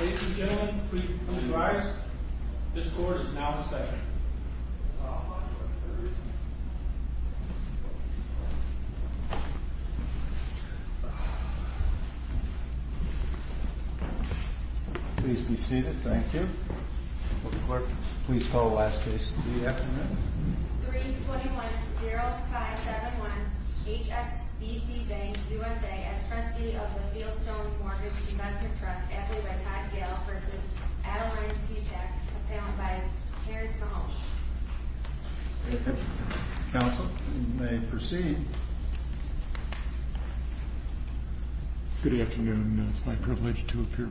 Ladies and gentlemen, please rise. This court is now in session. Please be seated. Thank you. Court, please call the last case of the afternoon. 321-0571 HSBC Bank USA as trustee of the Fieldstone Mortgage Investment Trust, abbey by Todd Gale v. Adelaide Sestak, compound by Harris Mahoney. Counsel, you may proceed. Good afternoon. It's my privilege to appear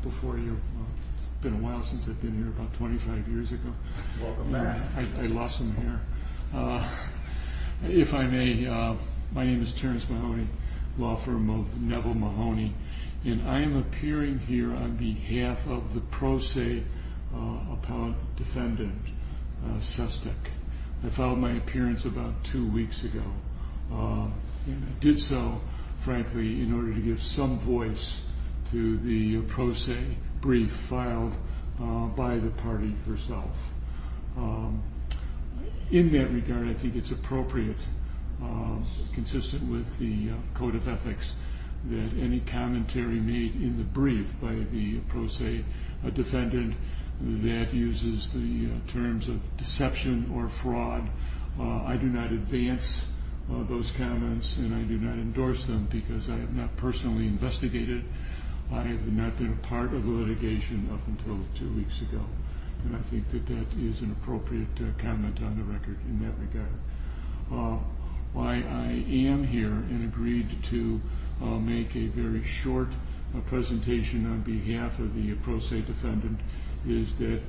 before you. It's been a while since I've been here, about 25 years ago. Welcome back. I lost some hair. If I may, my name is Terrence Mahoney, law firm of Neville Mahoney, and I am appearing here on behalf of the pro se appellate defendant, Sestak. I filed my appearance about two weeks ago. I did so, frankly, in order to give some voice to the pro se brief filed by the party herself. In that regard, I think it's appropriate, consistent with the code of ethics, that any commentary made in the brief by the pro se defendant that uses the terms of deception or fraud, I do not advance those comments and I do not endorse them because I have not personally investigated. I have not been a part of the litigation up until two weeks ago, and I think that that is an appropriate comment on the record in that regard. Why I am here and agreed to make a very short presentation on behalf of the pro se defendant is that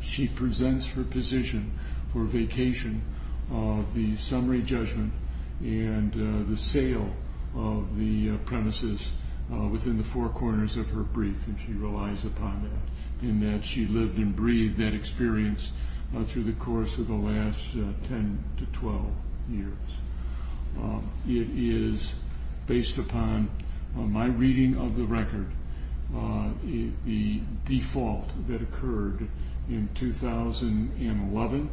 she presents her position for vacation of the summary judgment and the sale of the premises within the four corners of her brief, and she relies upon that in that she lived and breathed that experience through the course of the last 10 to 12 years. It is based upon my reading of the record. The default that occurred in 2011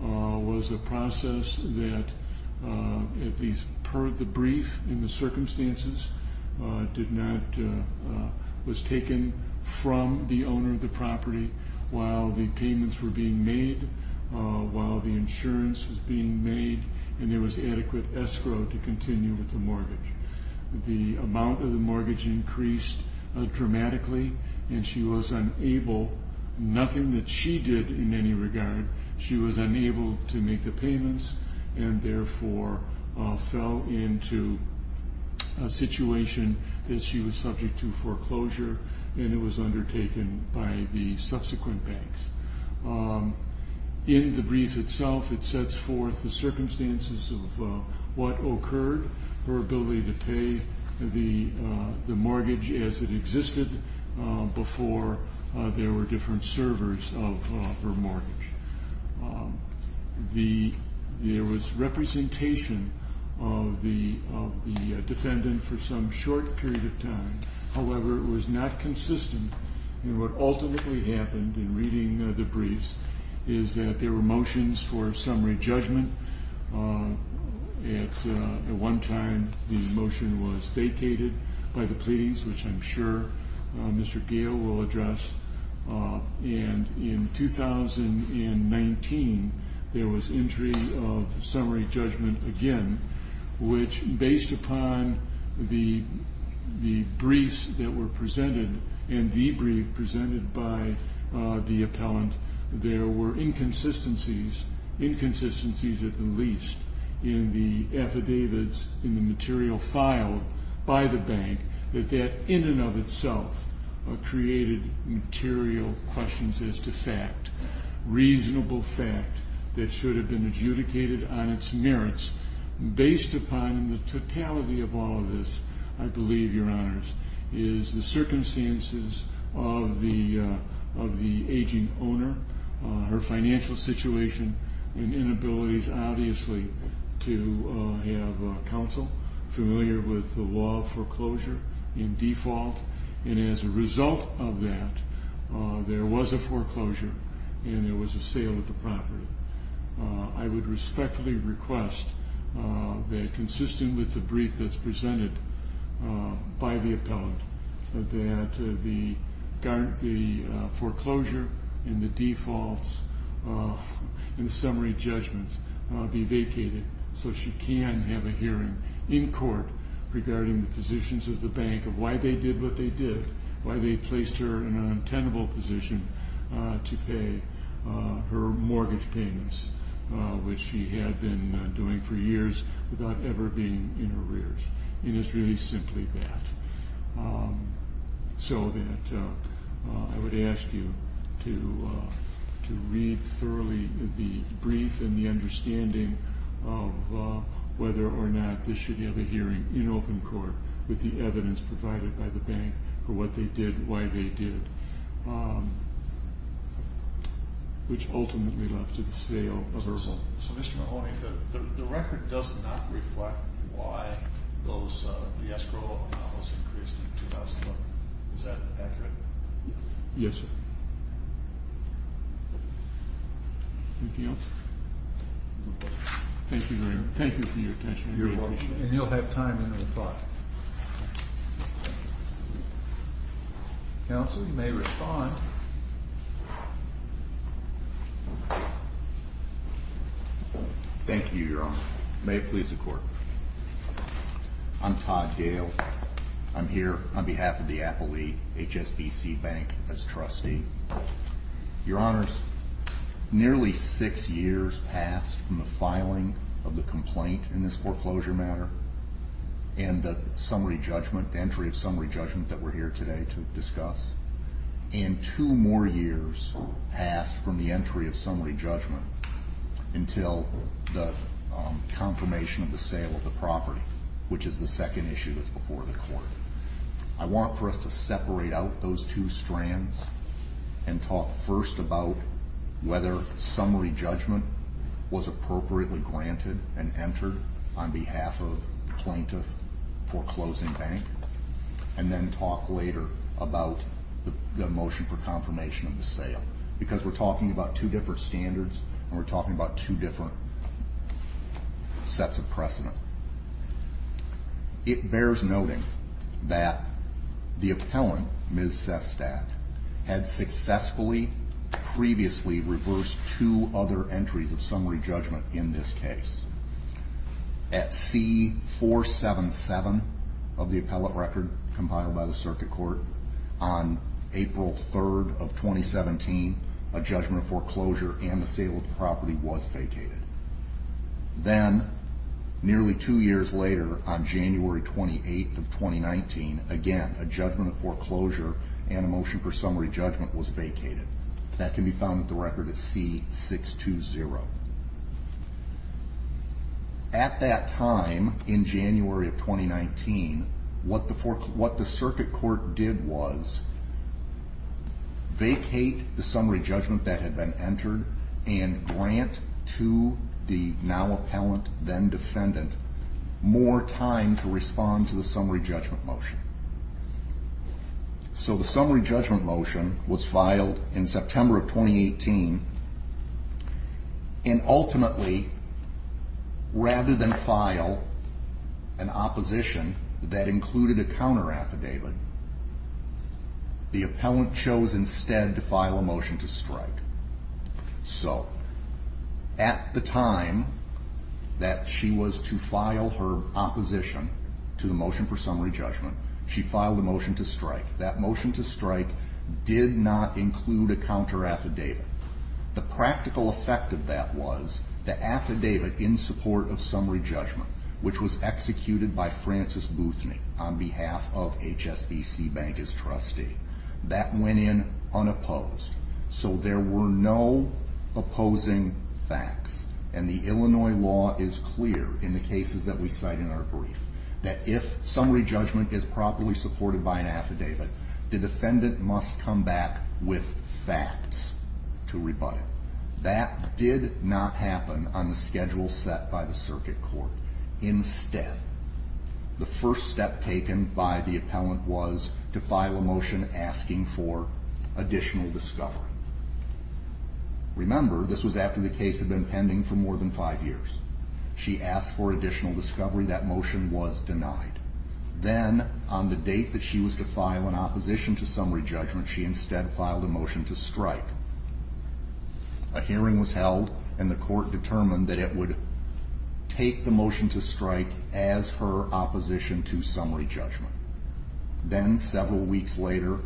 was a process that, at least per the brief in the circumstances, was taken from the owner of the property while the payments were being made, while the insurance was being made, and there was adequate escrow to continue with the mortgage. The amount of the mortgage increased dramatically and she was unable, nothing that she did in any regard, she was unable to make the payments and therefore fell into a situation that she was subject to foreclosure and it was undertaken by the subsequent banks. In the brief itself it sets forth the circumstances of what occurred, her ability to pay the mortgage as it existed before there were different servers of her mortgage. There was representation of the defendant for some short period of time, however it was not consistent and what ultimately happened in reading the briefs is that there were motions for summary judgment. At one time the motion was vacated by the pleas, which I'm sure Mr. Gale will address, and in 2019 there was entry of summary judgment again, which based upon the briefs that were presented and the brief presented by the appellant, there were inconsistencies at the least in the affidavits, in the material filed by the bank, that that in and of itself created material questions as to fact, reasonable fact that should have been adjudicated on its merits. Based upon the totality of all of this, I believe, Your Honors, is the circumstances of the aging owner, her financial situation, and inabilities obviously to have counsel familiar with the law of foreclosure and default, and as a result of that there was a foreclosure and there was a sale of the property. I would respectfully request that consistent with the brief that's presented by the appellant, that the foreclosure and the defaults in summary judgments be vacated so she can have a hearing in court regarding the positions of the bank of why they did what they did, why they placed her in an untenable position to pay her mortgage payments, which she had been doing for years without ever being in arrears. It is really simply that. So that I would ask you to read thoroughly the brief and the understanding of whether or not this should have a hearing in open court with the evidence provided by the bank for what they did, why they did, which ultimately led to the sale of her home. So, Mr. Mahoney, the record does not reflect why the escrow amount was increased in 2011. Is that accurate? Yes, sir. Anything else? Thank you very much. Thank you for your attention. You're welcome. And you'll have time to reply. Counsel, you may respond. Thank you, Your Honor. May it please the Court. I'm Todd Gale. I'm here on behalf of the Appellee HSBC Bank as trustee. Your Honors, nearly six years passed from the filing of the complaint in this foreclosure matter and the entry of summary judgment that we're here today to discuss, and two more years passed from the entry of summary judgment until the confirmation of the sale of the property, which is the second issue that's before the Court. I want for us to separate out those two strands and talk first about whether summary judgment was appropriately granted and entered on behalf of plaintiff foreclosing bank and then talk later about the motion for confirmation of the sale because we're talking about two different standards and we're talking about two different sets of precedent. It bears noting that the appellant, Ms. Sestak, had successfully previously reversed two other entries of summary judgment in this case. At C-477 of the appellate record compiled by the Circuit Court, on April 3rd of 2017, a judgment of foreclosure and the sale of the property was vacated. Then, nearly two years later, on January 28th of 2019, again, a judgment of foreclosure and a motion for summary judgment was vacated. That can be found at the record at C-620. At that time in January of 2019, what the Circuit Court did was vacate the summary judgment that had been entered and grant to the now appellant, then defendant, more time to respond to the summary judgment motion. The summary judgment motion was filed in September of 2018 and ultimately, rather than file an opposition that included a counter affidavit, the appellant chose instead to file a motion to strike. So, at the time that she was to file her opposition to the motion for summary judgment, she filed a motion to strike. That motion to strike did not include a counter affidavit. The practical effect of that was the affidavit in support of summary judgment, which was executed by Francis Boothny on behalf of HSBC Bank as trustee, that went in unopposed. So there were no opposing facts. And the Illinois law is clear in the cases that we cite in our brief that if summary judgment is properly supported by an affidavit, the defendant must come back with facts to rebut it. That did not happen on the schedule set by the Circuit Court. Instead, the first step taken by the appellant was to file a motion asking for additional discovery. Remember, this was after the case had been pending for more than five years. She asked for additional discovery. That motion was denied. Then, on the date that she was to file an opposition to summary judgment, she instead filed a motion to strike. A hearing was held, and the court determined that it would take the motion to strike as her opposition to summary judgment. Then, several weeks later,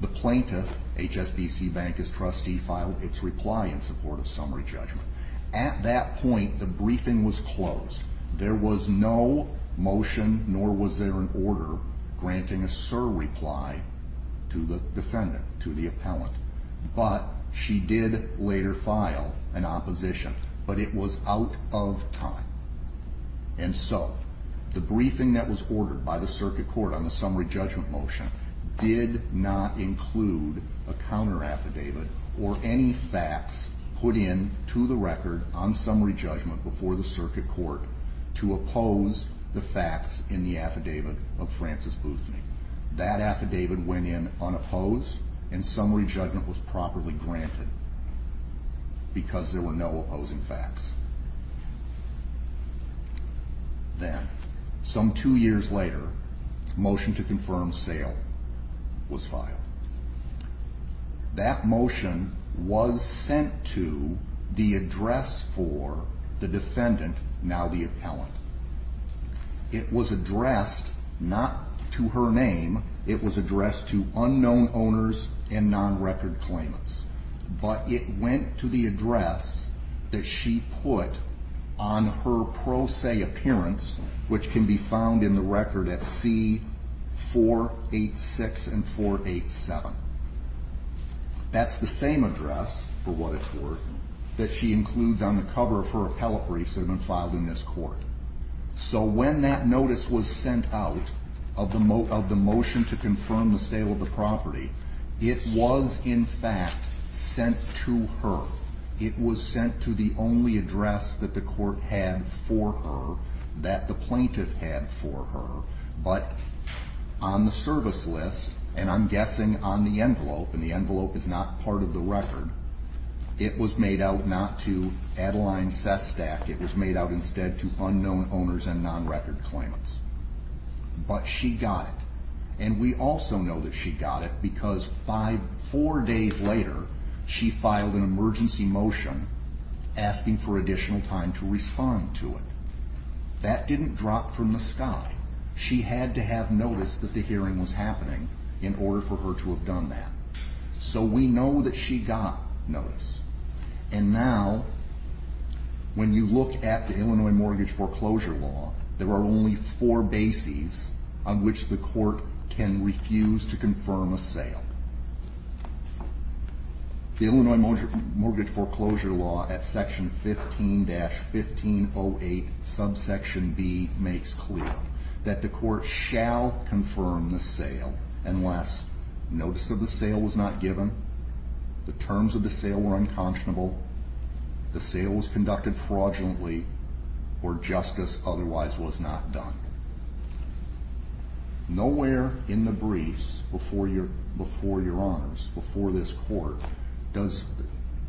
the plaintiff, HSBC Bank as trustee, filed its reply in support of summary judgment. At that point, the briefing was closed. There was no motion, nor was there an order, granting a surreply to the defendant, to the appellant. But she did later file an opposition. But it was out of time. And so, the briefing that was ordered by the Circuit Court on the summary judgment motion did not include a counteraffidavit or any facts put in to the record on summary judgment before the Circuit Court to oppose the facts in the affidavit of Frances Boothny. That affidavit went in unopposed, and summary judgment was properly granted because there were no opposing facts. Then, some two years later, a motion to confirm sale was filed. That motion was sent to the address for the defendant, now the appellant. It was addressed not to her name. It was addressed to unknown owners and non-record claimants. But it went to the address that she put on her pro se appearance, which can be found in the record at C486 and 487. That's the same address, for what it's worth, that she includes on the cover of her appellate briefs that have been filed in this court. So when that notice was sent out of the motion to confirm the sale of the property, it was, in fact, sent to her. It was sent to the only address that the court had for her, that the plaintiff had for her. But on the service list, and I'm guessing on the envelope, and the envelope is not part of the record, it was made out not to Adeline Sestak. It was made out instead to unknown owners and non-record claimants. But she got it. And we also know that she got it because four days later, she filed an emergency motion asking for additional time to respond to it. That didn't drop from the sky. She had to have noticed that the hearing was happening in order for her to have done that. So we know that she got notice. And now, when you look at the Illinois Mortgage Foreclosure Law, there are only four bases on which the court can refuse to confirm a sale. The Illinois Mortgage Foreclosure Law at section 15-1508, subsection B, makes clear that the court shall confirm the sale unless notice of the sale was not given, the terms of the sale were unconscionable, the sale was conducted fraudulently, or justice otherwise was not done. Nowhere in the briefs before your honors, before this court, does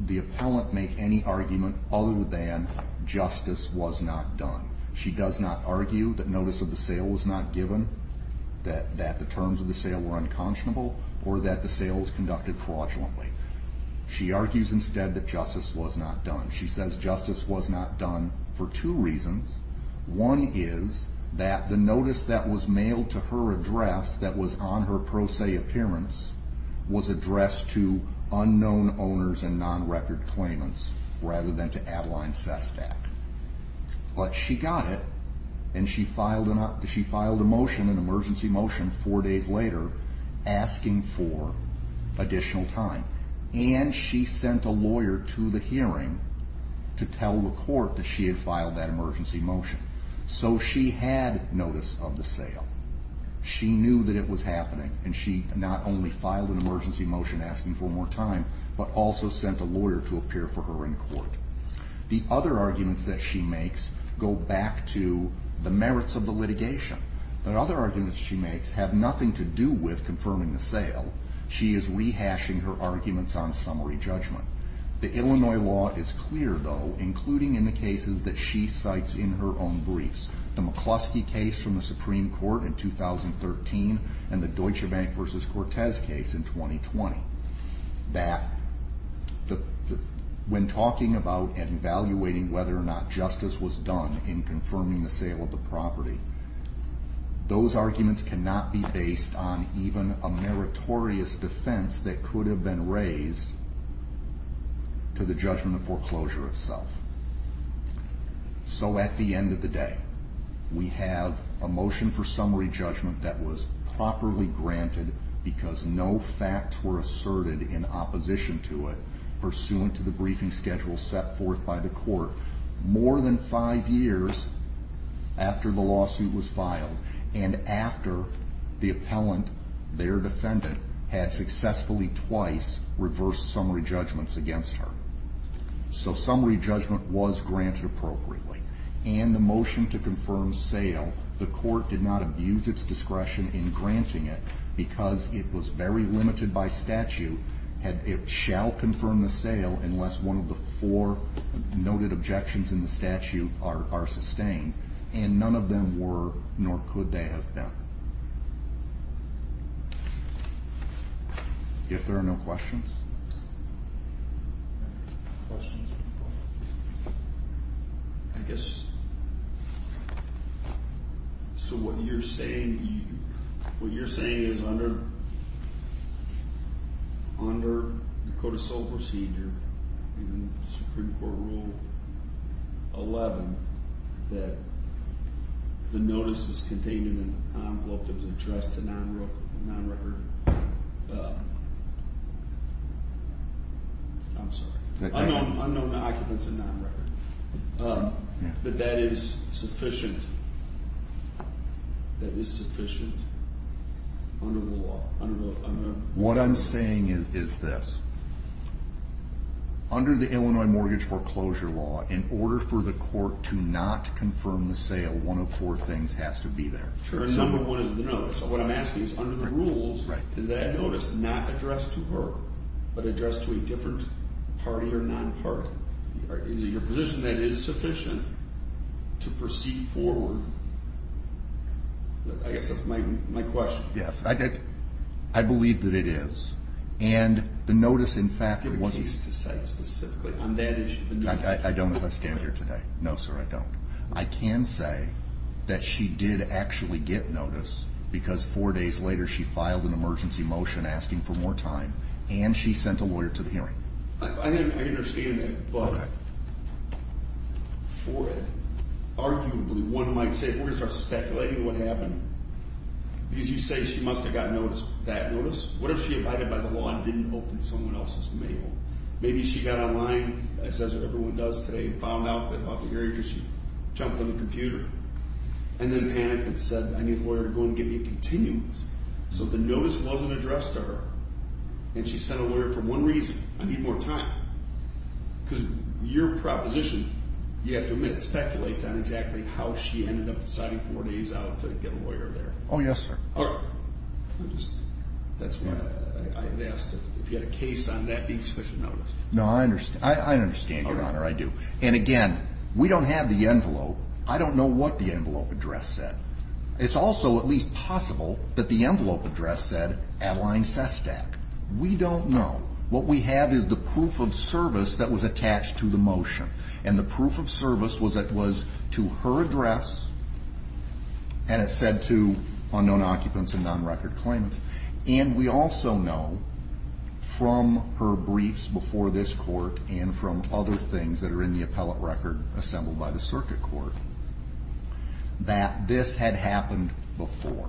the appellant make any argument other than justice was not done. She does not argue that notice of the sale was not given, that the terms of the sale were unconscionable, or that the sale was conducted fraudulently. She argues instead that justice was not done. She says justice was not done for two reasons. One is that the notice that was mailed to her address that was on her pro se appearance was addressed to unknown owners and non-record claimants rather than to Adeline Sestak. But she got it, and she filed an emergency motion four days later asking for additional time. And she sent a lawyer to the hearing to tell the court that she had filed that emergency motion. So she had notice of the sale. She knew that it was happening, and she not only filed an emergency motion asking for more time, but also sent a lawyer to appear for her in court. The other arguments that she makes go back to the merits of the litigation. The other arguments she makes have nothing to do with confirming the sale. She is rehashing her arguments on summary judgment. The Illinois law is clear, though, including in the cases that she cites in her own briefs. The McCluskey case from the Supreme Court in 2013 and the Deutsche Bank v. Cortez case in 2020. When talking about and evaluating whether or not justice was done in confirming the sale of the property, those arguments cannot be based on even a meritorious defense that could have been raised to the judgment of foreclosure itself. So at the end of the day, we have a motion for summary judgment that was properly granted because no facts were asserted in opposition to it pursuant to the briefing schedule set forth by the court. More than five years after the lawsuit was filed and after the appellant, their defendant, had successfully twice reversed summary judgments against her. So summary judgment was granted appropriately. And the motion to confirm sale, the court did not abuse its discretion in granting it because it was very limited by statute. It shall confirm the sale unless one of the four noted objections in the statute are sustained. And none of them were, nor could they have been. If there are no questions. I guess, so what you're saying, what you're saying is under, under the Code of Sole Procedure and Supreme Court Rule 11, that the notice was contained in an envelope that was addressed to non-record, I'm sorry, unknown occupants and non-record. That that is sufficient, that is sufficient under the law. What I'm saying is this. Under the Illinois Mortgage Foreclosure Law, in order for the court to not confirm the sale, one of four things has to be there. Number one is the notice. So what I'm asking is under the rules, is that notice not addressed to her, but addressed to a different party or non-party? Is it your position that it is sufficient to proceed forward? I guess that's my question. Yes, I believe that it is. And the notice, in fact, was Give a case to cite specifically on that issue. I don't understand it here today. No, sir, I don't. I can say that she did actually get notice because four days later she filed an emergency motion asking for more time. And she sent a lawyer to the hearing. I understand that. Okay. For it, arguably, one might say lawyers are speculating what happened. Because you say she must have gotten notice, that notice. What if she abided by the law and didn't open someone else's mail? Maybe she got online, as everyone does today, and found out about the hearing because she jumped on the computer. And then panicked and said, I need a lawyer to go and get me a continuance. So the notice wasn't addressed to her, and she sent a lawyer for one reason. I need more time. Because your proposition, you have to admit, speculates on exactly how she ended up deciding four days out to get a lawyer there. Oh, yes, sir. All right. That's why I asked if you had a case on that piece of the notice. No, I understand. I understand, Your Honor. I do. And, again, we don't have the envelope. I don't know what the envelope address said. It's also at least possible that the envelope address said Adeline Sestak. We don't know. What we have is the proof of service that was attached to the motion. And the proof of service was that it was to her address, and it said to unknown occupants and non-record claimants. And we also know from her briefs before this court and from other things that are in the appellate record assembled by the circuit court that this had happened before.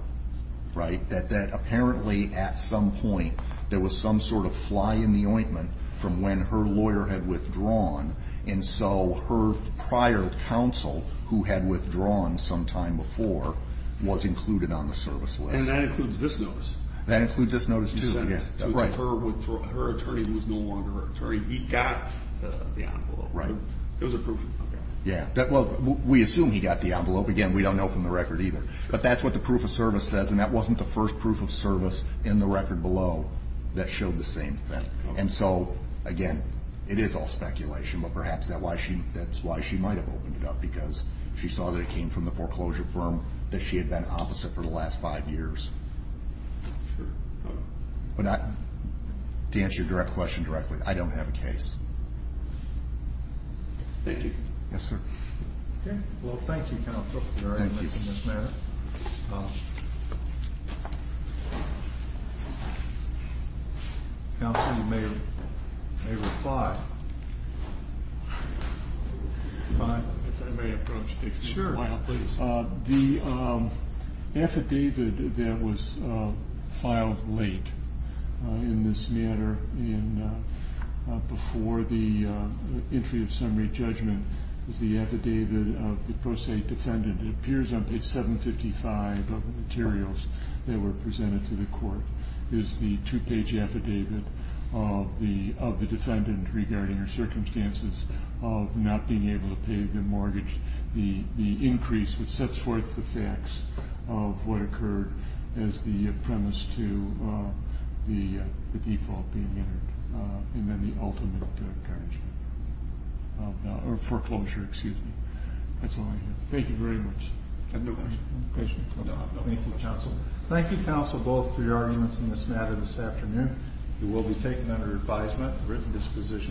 Right? That apparently at some point there was some sort of fly in the ointment from when her lawyer had withdrawn. And so her prior counsel, who had withdrawn sometime before, was included on the service list. And that includes this notice. That includes this notice, too. Right. So her attorney was no longer her attorney. He got the envelope. Right. It was a proof of service. Yeah. Well, we assume he got the envelope. Again, we don't know from the record either. But that's what the proof of service says, and that wasn't the first proof of service in the record below that showed the same thing. And so, again, it is all speculation. But perhaps that's why she might have opened it up, because she saw that it came from the foreclosure firm that she had been opposite for the last five years. Sure. But to answer your question directly, I don't have a case. Thank you. Yes, sir. Okay. Well, thank you, counsel. Thank you for this matter. Counsel, you may reply. If I may approach, take a little while, please. Sure. The affidavit that was filed late in this matter and before the entry of summary judgment is the affidavit of the pro se defendant. It appears on page 755 of the materials that were presented to the court. It is the two-page affidavit of the defendant regarding her circumstances of not being able to pay the mortgage, the increase which sets forth the facts of what occurred as the premise to the default being entered, and then the ultimate garnishment or foreclosure. Excuse me. That's all I have. Thank you very much. Thank you, counsel. Thank you, counsel, both for your arguments in this matter this afternoon. It will be taken under advisement and written disposition.